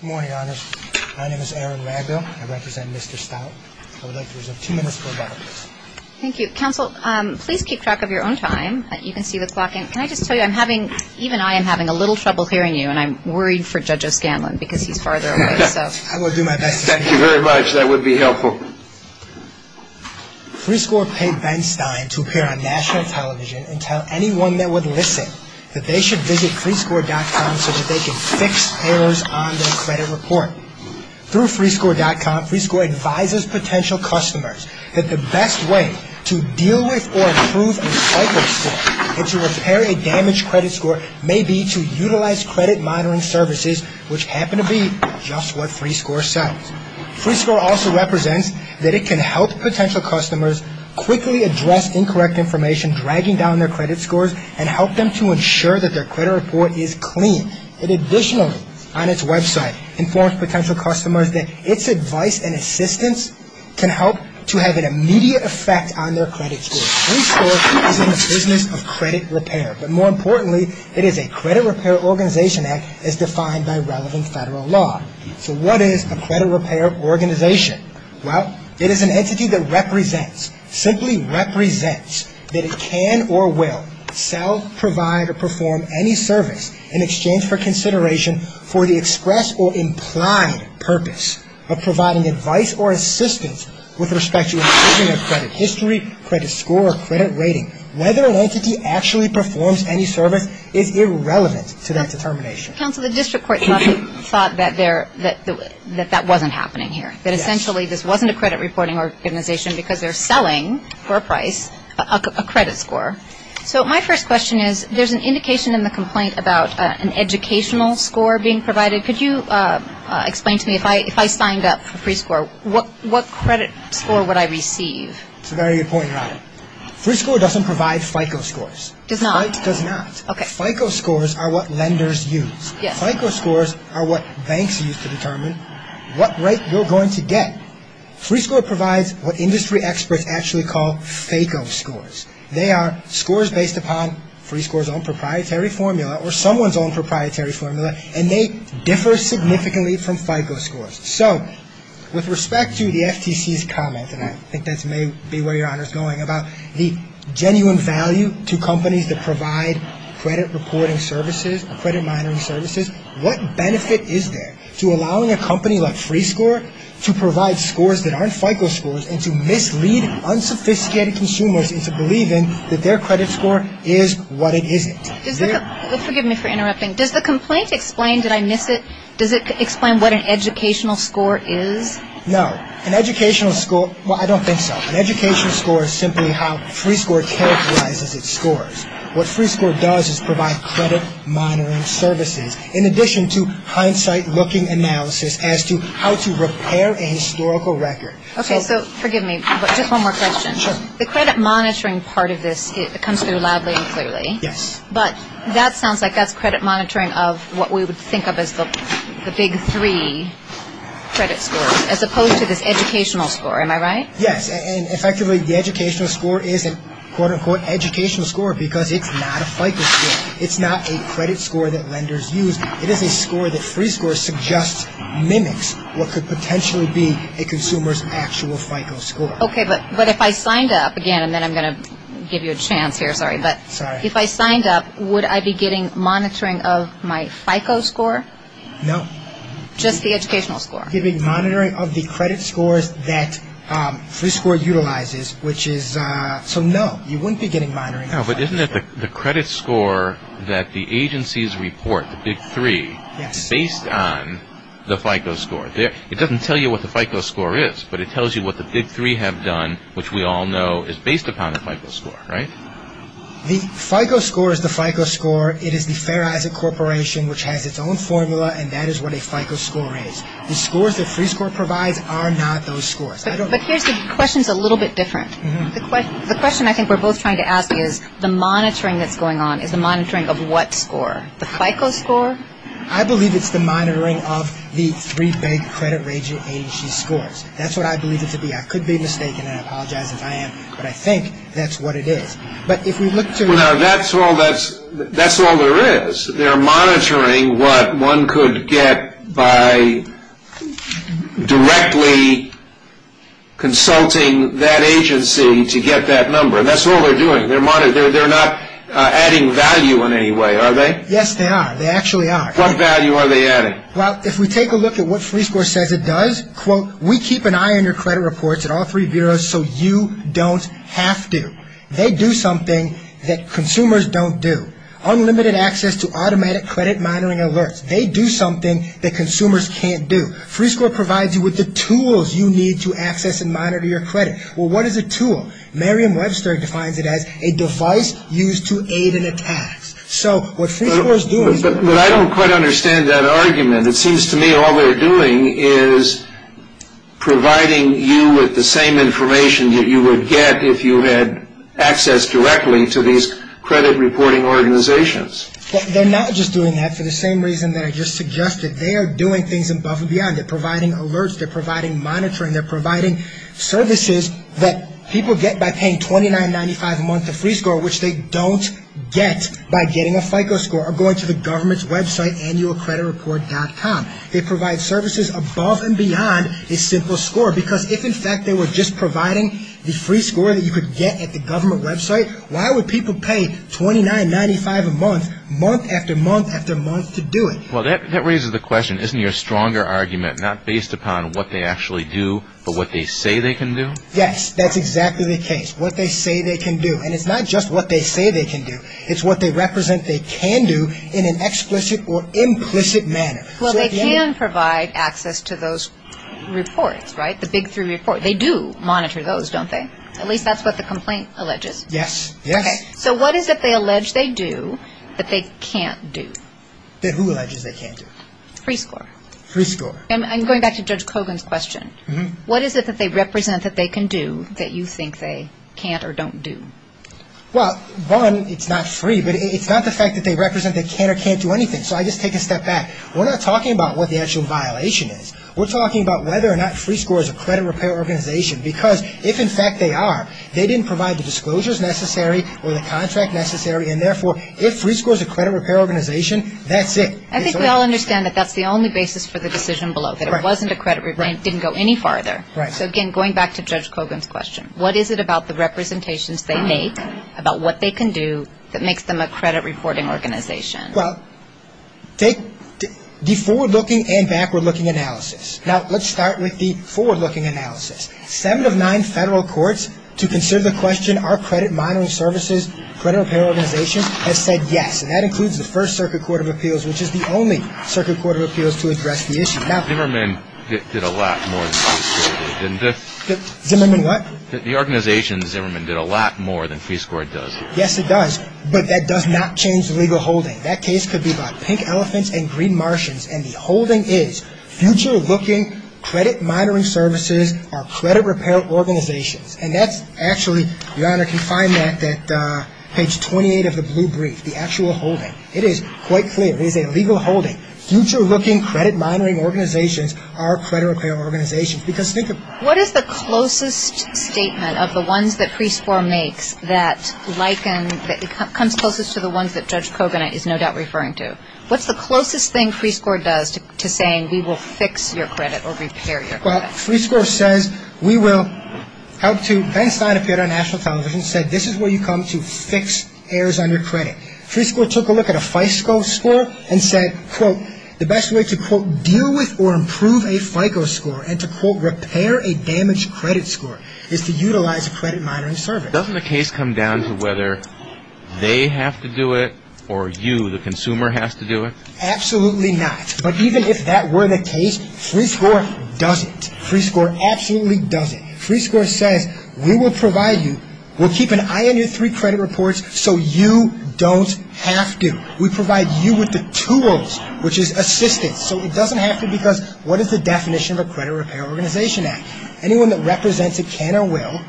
Good morning, Your Honors. My name is Aaron Wagner. I represent Mr. Stout. I would like to reserve two minutes for about a minute. Thank you. Counsel, please keep track of your own time. You can see the clock in. Can I just tell you I'm having, even I am having a little trouble hearing you, and I'm worried for Judge O'Scanlan because he's farther away, so. I will do my best. Thank you very much. That would be helpful. FreeScore paid Ben Stein to appear on national television and tell anyone that would listen that they should visit FreeScore.com so that they can fix errors on their credit report. Through FreeScore.com, FreeScore advises potential customers that the best way to deal with or improve a cycle score and to repair a damaged credit score may be to utilize credit monitoring services, which happen to be just what FreeScore sells. FreeScore also represents that it can help potential customers quickly address incorrect information, and dragging down their credit scores, and help them to ensure that their credit report is clean. It additionally, on its website, informs potential customers that its advice and assistance can help to have an immediate effect on their credit score. FreeScore is in the business of credit repair, but more importantly, it is a credit repair organization, as defined by relevant federal law. So what is a credit repair organization? Well, it is an entity that represents, simply represents, that it can or will sell, provide, or perform any service in exchange for consideration for the express or implied purpose of providing advice or assistance with respect to improving a credit history, credit score, or credit rating. Whether an entity actually performs any service is irrelevant to that determination. Counsel, the district court thought that that wasn't happening here. That essentially this wasn't a credit reporting organization because they're selling, for a price, a credit score. So my first question is, there's an indication in the complaint about an educational score being provided. Could you explain to me, if I signed up for FreeScore, what credit score would I receive? That's a very good point, Robin. FreeScore doesn't provide FICO scores. It does not? It does not. Okay. FICO scores are what lenders use. Yes. FICO scores are what banks use to determine what rate you're going to get. FreeScore provides what industry experts actually call FICO scores. They are scores based upon FreeScore's own proprietary formula or someone's own proprietary formula, and they differ significantly from FICO scores. So with respect to the FTC's comment, and I think that may be where your honor is going, about the genuine value to companies that provide credit reporting services, credit monitoring services, what benefit is there to allowing a company like FreeScore to provide scores that aren't FICO scores and to mislead unsophisticated consumers into believing that their credit score is what it isn't? Forgive me for interrupting. Does the complaint explain, did I miss it, does it explain what an educational score is? No. An educational score, well, I don't think so. An educational score is simply how FreeScore characterizes its scores. What FreeScore does is provide credit monitoring services, in addition to hindsight-looking analysis as to how to repair a historical record. Okay, so forgive me, but just one more question. Sure. The credit monitoring part of this comes through loudly and clearly. Yes. But that sounds like that's credit monitoring of what we would think of as the big three credit scores, as opposed to this educational score. Am I right? Yes, and effectively, the educational score is a, quote-unquote, educational score because it's not a FICO score. It's not a credit score that lenders use. It is a score that FreeScore suggests mimics what could potentially be a consumer's actual FICO score. Okay, but if I signed up, again, and then I'm going to give you a chance here, sorry, but if I signed up, would I be getting monitoring of my FICO score? No. Just the educational score? You're getting monitoring of the credit scores that FreeScore utilizes, which is, so no, you wouldn't be getting monitoring. No, but isn't it the credit score that the agencies report, the big three, based on the FICO score? It doesn't tell you what the FICO score is, but it tells you what the big three have done, which we all know is based upon a FICO score, right? The FICO score is the FICO score. It is the Fair Isaac Corporation, which has its own formula, and that is what a FICO score is. The scores that FreeScore provides are not those scores. But here's the question that's a little bit different. The question I think we're both trying to ask is the monitoring that's going on is the monitoring of what score? The FICO score? I believe it's the monitoring of the three big credit rating agency scores. That's what I believe it to be. I could be mistaken, and I apologize if I am, but I think that's what it is. That's all there is. They're monitoring what one could get by directly consulting that agency to get that number. That's all they're doing. They're not adding value in any way, are they? Yes, they are. They actually are. What value are they adding? Well, if we take a look at what FreeScore says it does, quote, we keep an eye on your credit reports at all three bureaus so you don't have to. They do something that consumers don't do. Unlimited access to automatic credit monitoring alerts. They do something that consumers can't do. FreeScore provides you with the tools you need to access and monitor your credit. Well, what is a tool? Merriam-Webster defines it as a device used to aid in attacks. But I don't quite understand that argument. It seems to me all they're doing is providing you with the same information that you would get if you had access directly to these credit reporting organizations. They're not just doing that for the same reason that I just suggested. They are doing things above and beyond. They're providing alerts. They're providing monitoring. They're providing services that people get by paying $29.95 a month to FreeScore, which they don't get by getting a FICO score or going to the government's website, annualcreditreport.com. They provide services above and beyond a simple score. Because if, in fact, they were just providing the FreeScore that you could get at the government website, why would people pay $29.95 a month, month after month after month to do it? Well, that raises the question. Isn't your stronger argument not based upon what they actually do but what they say they can do? Yes, that's exactly the case, what they say they can do. And it's not just what they say they can do. It's what they represent they can do in an explicit or implicit manner. Well, they can provide access to those reports, right, the big three reports. They do monitor those, don't they? At least that's what the complaint alleges. Yes, yes. Okay, so what is it they allege they do that they can't do? That who alleges they can't do? FreeScore. FreeScore. And going back to Judge Kogan's question, what is it that they represent that they can do that you think they can't or don't do? Well, one, it's not free, but it's not the fact that they represent they can or can't do anything. So I just take a step back. We're not talking about what the actual violation is. We're talking about whether or not FreeScore is a credit repair organization because if, in fact, they are, they didn't provide the disclosures necessary or the contract necessary and, therefore, if FreeScore is a credit repair organization, that's it. I think we all understand that that's the only basis for the decision below, that it wasn't a credit repair and it didn't go any farther. Right. So, again, going back to Judge Kogan's question, what is it about the representations they make about what they can do that makes them a credit reporting organization? Well, take the forward-looking and backward-looking analysis. Now, let's start with the forward-looking analysis. Seven of nine federal courts, to consider the question, are credit monitoring services, credit repair organizations, have said yes, and that includes the First Circuit Court of Appeals, which is the only circuit court of appeals to address the issue. Now, Zimmerman did a lot more than FreeScore did, didn't they? Zimmerman what? The organization, Zimmerman, did a lot more than FreeScore does here. Yes, it does, but that does not change the legal holding. That case could be about pink elephants and green martians, and the holding is future-looking credit monitoring services are credit repair organizations. And that's actually, Your Honor, you can find that at page 28 of the blue brief, the actual holding. It is quite clear. It is a legal holding. Future-looking credit monitoring organizations are credit repair organizations. Because think about it. What is the closest statement of the ones that FreeScore makes that comes closest to the ones that Judge Kogan is no doubt referring to? What's the closest thing FreeScore does to saying we will fix your credit or repair your credit? Well, FreeScore says we will help to, Ben Stein appeared on National Television, said this is where you come to fix errors on your credit. FreeScore took a look at a FICO score and said, quote, the best way to, quote, deal with or improve a FICO score and to, quote, repair a damaged credit score is to utilize a credit monitoring service. Doesn't the case come down to whether they have to do it or you, the consumer, has to do it? Absolutely not. But even if that were the case, FreeScore doesn't. FreeScore absolutely doesn't. FreeScore says we will provide you, we'll keep an eye on your three credit reports so you don't have to. We provide you with the tools, which is assistance, so it doesn't have to because what is the definition of a credit repair organization act? Anyone that represents a can or will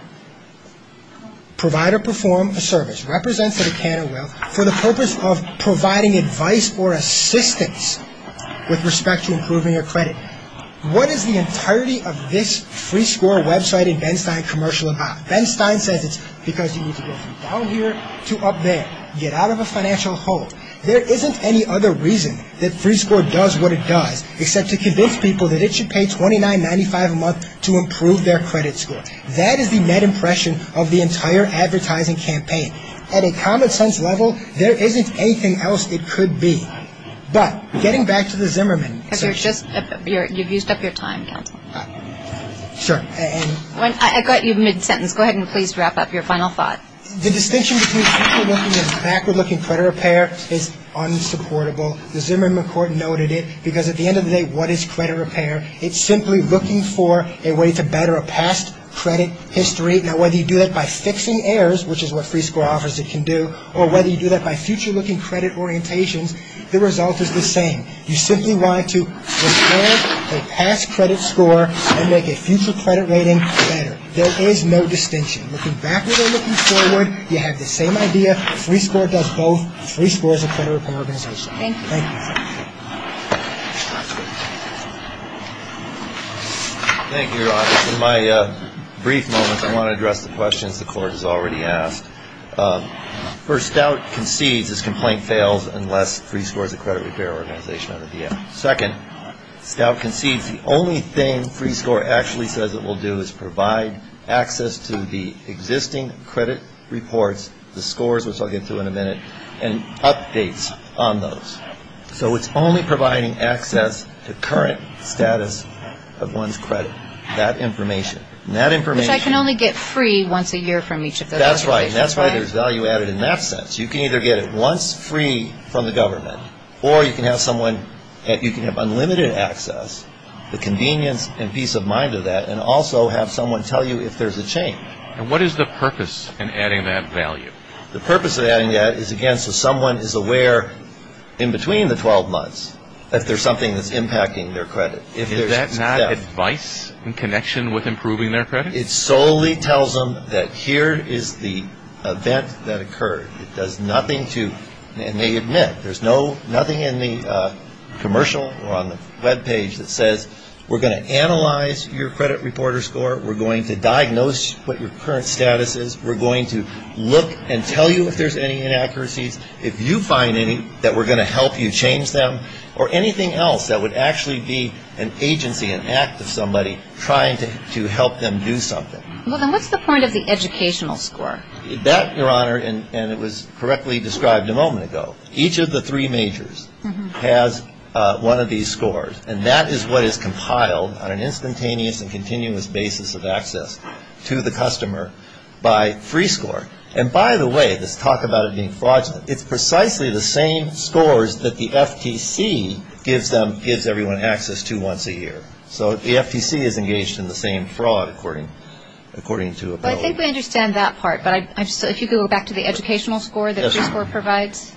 provide or perform a service, represents a can or will for the purpose of providing advice or assistance with respect to improving your credit. What is the entirety of this FreeScore website and Ben Stein commercial about? Ben Stein says it's because you need to go from down here to up there, get out of a financial hole. There isn't any other reason that FreeScore does what it does except to convince people that it should pay $29.95 a month to improve their credit score. That is the net impression of the entire advertising campaign. At a common sense level, there isn't anything else it could be. But getting back to the Zimmerman. You've used up your time, counsel. Sure. I got you mid-sentence. Go ahead and please wrap up your final thought. The distinction between backward-looking and backward-looking credit repair is unsupportable. The Zimmerman court noted it because at the end of the day, what is credit repair? It's simply looking for a way to better a past credit history. Now, whether you do that by fixing errors, which is what FreeScore offers it can do, or whether you do that by future-looking credit orientations, the result is the same. You simply want to restore a past credit score and make a future credit rating better. There is no distinction. Looking backward or looking forward, you have the same idea. FreeScore does both. FreeScore is a credit repair organization. Thank you. Thank you, Your Honor. In my brief moments, I want to address the questions the court has already asked. First, Stout concedes this complaint fails unless FreeScore is a credit repair organization. Second, Stout concedes the only thing FreeScore actually says it will do is provide access to the existing credit reports, the scores, which I'll get to in a minute, and updates on those. So it's only providing access to current status of one's credit. That information. Which I can only get free once a year from each of those. That's right. And that's why there's value added in that sense. You can either get it once free from the government, or you can have unlimited access, the convenience and peace of mind of that, and also have someone tell you if there's a change. And what is the purpose in adding that value? The purpose of adding that is, again, so someone is aware in between the 12 months that there's something that's impacting their credit. Is that not advice in connection with improving their credit? It solely tells them that here is the event that occurred. It does nothing to, and they admit, there's nothing in the commercial or on the web page that says, we're going to analyze your credit reporter score. We're going to diagnose what your current status is. We're going to look and tell you if there's any inaccuracies. If you find any that we're going to help you change them, or anything else that would actually be an agency, an act of somebody trying to help them do something. Well, then what's the point of the educational score? That, Your Honor, and it was correctly described a moment ago. Each of the three majors has one of these scores, and that is what is compiled on an instantaneous and continuous basis of access to the customer by free score. And by the way, this talk about it being fraudulent, it's precisely the same scores that the FTC gives them, gives everyone access to once a year. So the FTC is engaged in the same fraud according to a bill. Well, I think we understand that part, but if you could go back to the educational score that the score provides.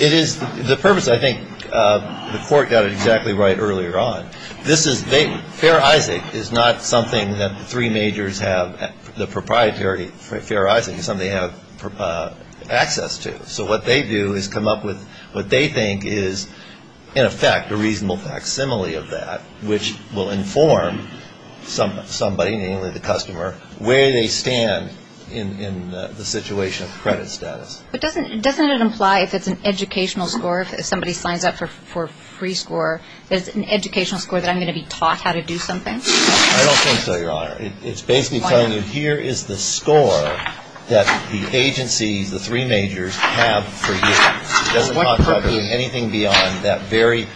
It is, the purpose, I think the court got it exactly right earlier on. Fair Isaac is not something that the three majors have, the proprietary Fair Isaac is something they have access to. So what they do is come up with what they think is, in effect, a reasonable facsimile of that, which will inform somebody, namely the customer, where they stand in the situation of credit status. But doesn't it imply if it's an educational score, if somebody signs up for free score, that it's an educational score that I'm going to be taught how to do something? I don't think so, Your Honor. It's basically telling you here is the score that the agencies, the three majors, have for you. It doesn't mean anything beyond that very,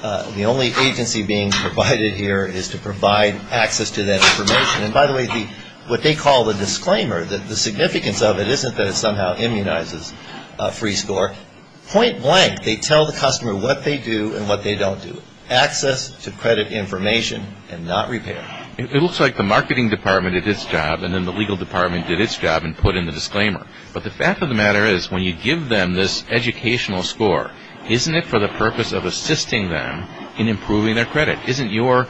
the only agency being provided here is to provide access to that information. And by the way, what they call the disclaimer, the significance of it isn't that it somehow immunizes free score. Point blank, they tell the customer what they do and what they don't do. Access to credit information and not repair. It looks like the marketing department did its job and then the legal department did its job and put in the disclaimer. But the fact of the matter is when you give them this educational score, isn't it for the purpose of assisting them in improving their credit? Isn't your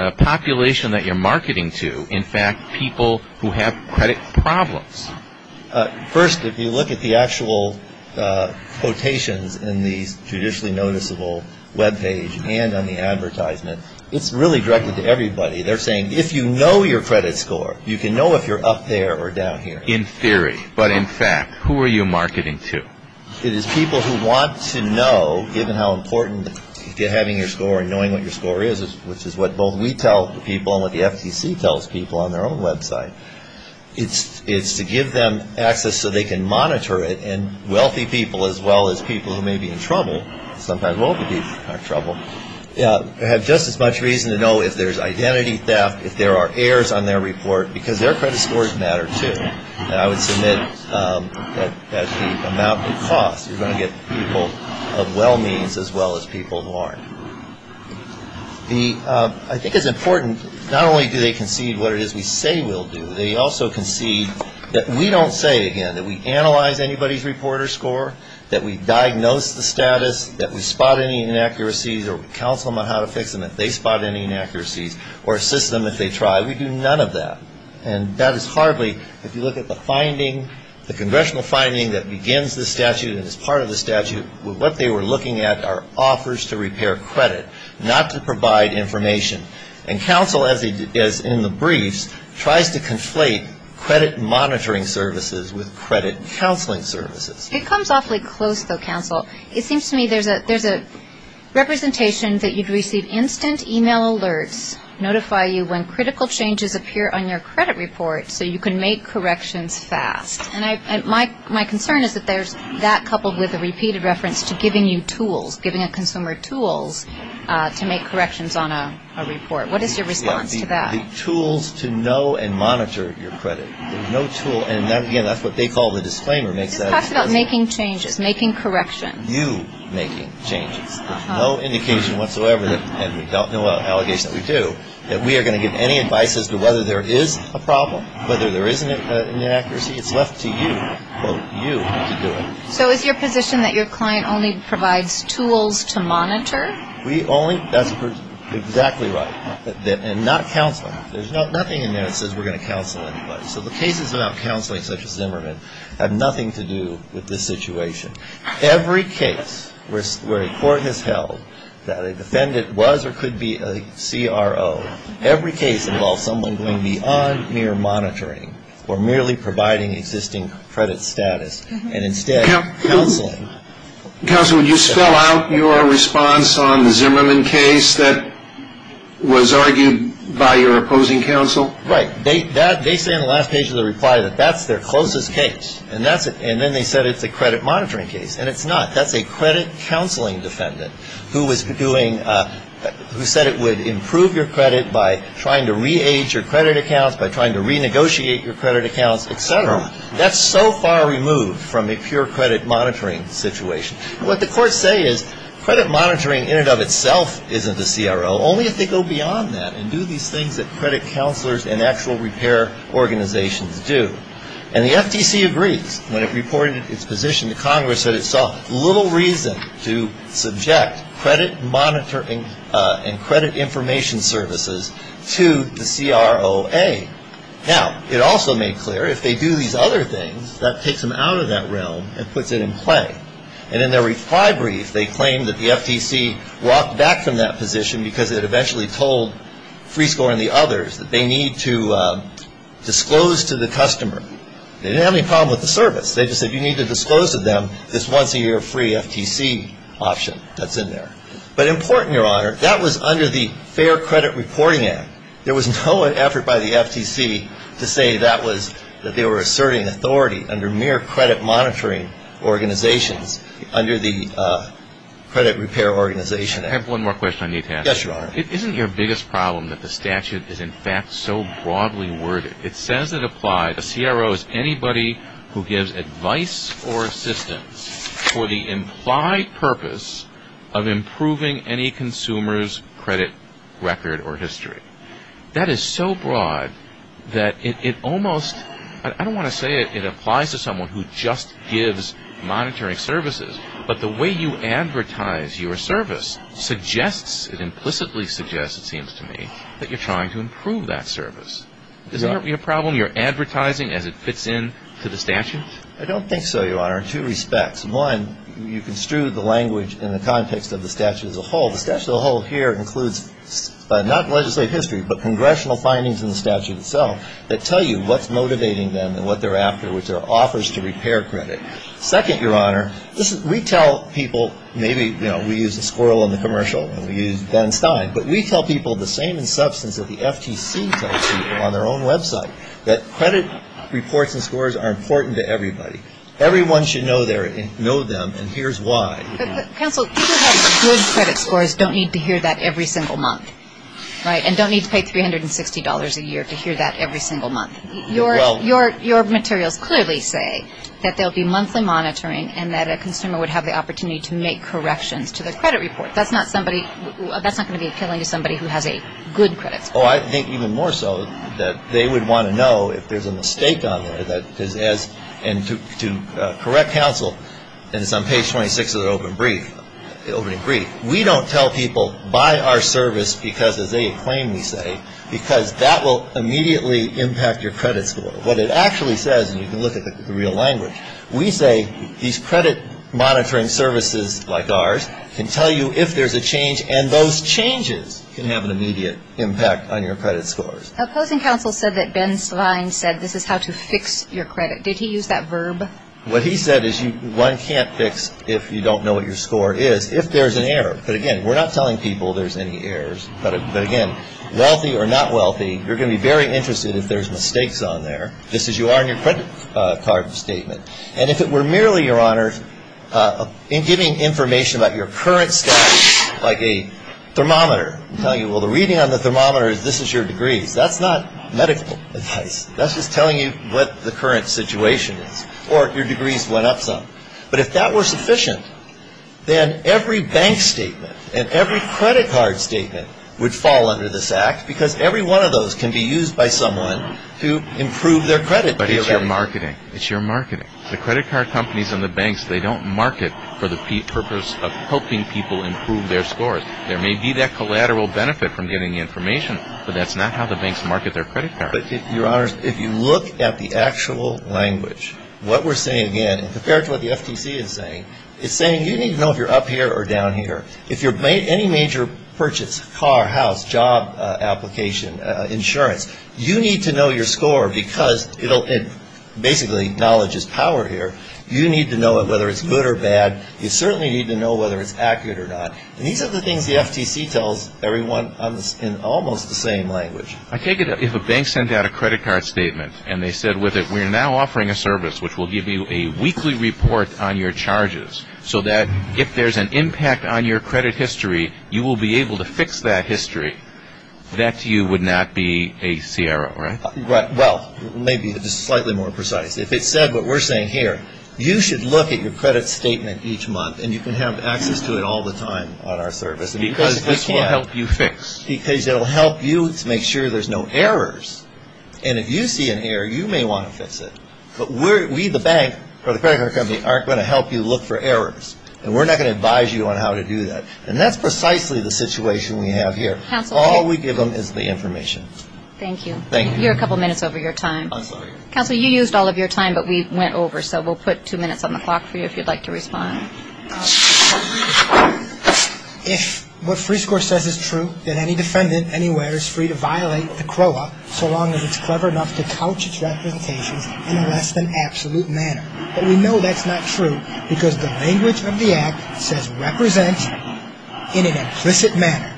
population that you're marketing to, in fact, people who have credit problems? First, if you look at the actual quotations in the Judicially Noticeable webpage and on the advertisement, it's really directed to everybody. They're saying if you know your credit score, you can know if you're up there or down here. In theory, but in fact, who are you marketing to? It is people who want to know, given how important having your score and knowing what your score is, which is what both we tell people and what the FTC tells people on their own website. It's to give them access so they can monitor it. And wealthy people, as well as people who may be in trouble, sometimes wealthy people are in trouble, have just as much reason to know if there's identity theft, if there are errors on their report, because their credit scores matter, too. And I would submit that that's the amount it costs. You're going to get people of well means as well as people who aren't. I think it's important. Not only do they concede what it is we say we'll do, they also concede that we don't say it again, that we analyze anybody's report or score, that we diagnose the status, that we spot any inaccuracies, or we counsel them on how to fix them if they spot any inaccuracies, or assist them if they try. We do none of that. And that is hardly, if you look at the finding, the congressional finding that begins this statute and is part of the statute, what they were looking at are offers to repair credit, not to provide information. And counsel, as in the briefs, tries to conflate credit monitoring services with credit counseling services. It comes awfully close, though, counsel. It seems to me there's a representation that you'd receive instant e-mail alerts, notify you when critical changes appear on your credit report so you can make corrections fast. And my concern is that there's that coupled with a repeated reference to giving you tools, giving a consumer tools to make corrections on a report. What is your response to that? The tools to know and monitor your credit. There's no tool. And, again, that's what they call the disclaimer. It talks about making changes, making corrections. You making changes. There's no indication whatsoever, and we don't know what allegations we do, that we are going to give any advice as to whether there is a problem, whether there is an inaccuracy. It's left to you, quote, you to do it. So is your position that your client only provides tools to monitor? We only – that's exactly right. And not counseling. There's nothing in there that says we're going to counsel anybody. So the cases about counseling, such as Zimmerman, have nothing to do with this situation. Every case where a court has held that a defendant was or could be a CRO, every case involves someone going beyond mere monitoring or merely providing existing credit status and instead counseling. Counsel, would you spell out your response on the Zimmerman case that was argued by your opposing counsel? Right. They say in the last page of the reply that that's their closest case, and then they said it's a credit monitoring case, and it's not. That's a credit counseling defendant who was doing – who said it would improve your credit by trying to re-age your credit accounts, by trying to renegotiate your credit accounts, et cetera. That's so far removed from a pure credit monitoring situation. What the courts say is credit monitoring in and of itself isn't a CRO, only if they go beyond that and do these things that credit counselors and actual repair organizations do. And the FTC agrees. When it reported its position to Congress, it said it saw little reason to subject credit monitoring and credit information services to the CROA. Now, it also made clear if they do these other things, that takes them out of that realm and puts it in play. And in their reply brief, they claim that the FTC walked back from that position because it eventually told Freescore and the others that they need to disclose to the customer. They didn't have any problem with the service. They just said you need to disclose to them this once a year free FTC option that's in there. But important, Your Honor, that was under the Fair Credit Reporting Act. There was no effort by the FTC to say that was – that they were asserting authority under mere credit monitoring organizations under the Credit Repair Organization Act. I have one more question I need to ask. Yes, Your Honor. Isn't your biggest problem that the statute is in fact so broadly worded? It says it applies to CROs, anybody who gives advice or assistance for the implied purpose of improving any consumer's credit record or history. That is so broad that it almost – I don't want to say it applies to someone who just gives monitoring services, but the way you advertise your service suggests – it implicitly suggests, it seems to me, that you're trying to improve that service. Isn't that your problem? You're advertising as it fits into the statute? I don't think so, Your Honor, in two respects. One, you construed the language in the context of the statute as a whole. The statute as a whole here includes not legislative history, but congressional findings in the statute itself that tell you what's motivating them and what they're after, which are offers to repair credit. Second, Your Honor, we tell people – maybe, you know, we use a squirrel in the commercial and we use Ben Stein, but we tell people the same substance that the FTC tells people on their own website, that credit reports and scores are important to everybody. Everyone should know them, and here's why. Counsel, people who have good credit scores don't need to hear that every single month, right, and don't need to pay $360 a year to hear that every single month. Your materials clearly say that there will be monthly monitoring and that a consumer would have the opportunity to make corrections to the credit report. That's not somebody – that's not going to be appealing to somebody who has a good credit score. Oh, I think even more so that they would want to know if there's a mistake on there that is as – and to correct counsel, and it's on page 26 of the opening brief, we don't tell people, buy our service because, as they acclaim, we say, because that will immediately impact your credit score. What it actually says, and you can look at the real language, we say these credit monitoring services like ours can tell you if there's a change, and those changes can have an immediate impact on your credit scores. Opposing counsel said that Ben Sline said this is how to fix your credit. Did he use that verb? What he said is one can't fix if you don't know what your score is if there's an error. But, again, we're not telling people there's any errors. But, again, wealthy or not wealthy, you're going to be very interested if there's mistakes on there, just as you are in your credit card statement. And if it were merely, Your Honor, in giving information about your current status, like a thermometer and telling you, well, the reading on the thermometer is this is your degrees, that's not medical advice. That's just telling you what the current situation is or your degrees went up some. But if that were sufficient, then every bank statement and every credit card statement would fall under this act because every one of those can be used by someone to improve their credit. But it's your marketing. It's your marketing. The credit card companies and the banks, they don't market for the purpose of helping people improve their scores. There may be that collateral benefit from getting information, but that's not how the banks market their credit cards. But, Your Honor, if you look at the actual language, what we're saying, again, compared to what the FTC is saying, it's saying you need to know if you're up here or down here. If any major purchase, car, house, job application, insurance, you need to know your score because it basically acknowledges power here. You need to know whether it's good or bad. You certainly need to know whether it's accurate or not. And these are the things the FTC tells everyone in almost the same language. I take it if a bank sent out a credit card statement and they said with it, we're now offering a service which will give you a weekly report on your charges so that if there's an impact on your credit history, you will be able to fix that history. That to you would not be a CRO, right? Well, maybe just slightly more precise. If it said what we're saying here, you should look at your credit statement each month and you can have access to it all the time on our service. Because this will help you fix. Because it will help you to make sure there's no errors. And if you see an error, you may want to fix it. But we, the bank, or the credit card company, aren't going to help you look for errors. And we're not going to advise you on how to do that. And that's precisely the situation we have here. All we give them is the information. Thank you. You're a couple minutes over your time. Counselor, you used all of your time, but we went over, so we'll put two minutes on the clock for you if you'd like to respond. If what Freescore says is true, then any defendant anywhere is free to violate the CROA so long as it's clever enough to couch its representations in a less-than-absolute manner. But we know that's not true because the language of the Act says, represent in an implicit manner.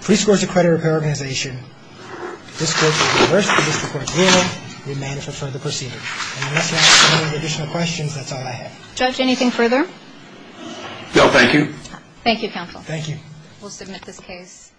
Freescore is a credit repair organization. If this court is adverse to this court's will, we may enter for further proceedings. And unless you have any additional questions, that's all I have. Judge, anything further? No, thank you. Thank you, Counselor. Thank you. We'll submit this case.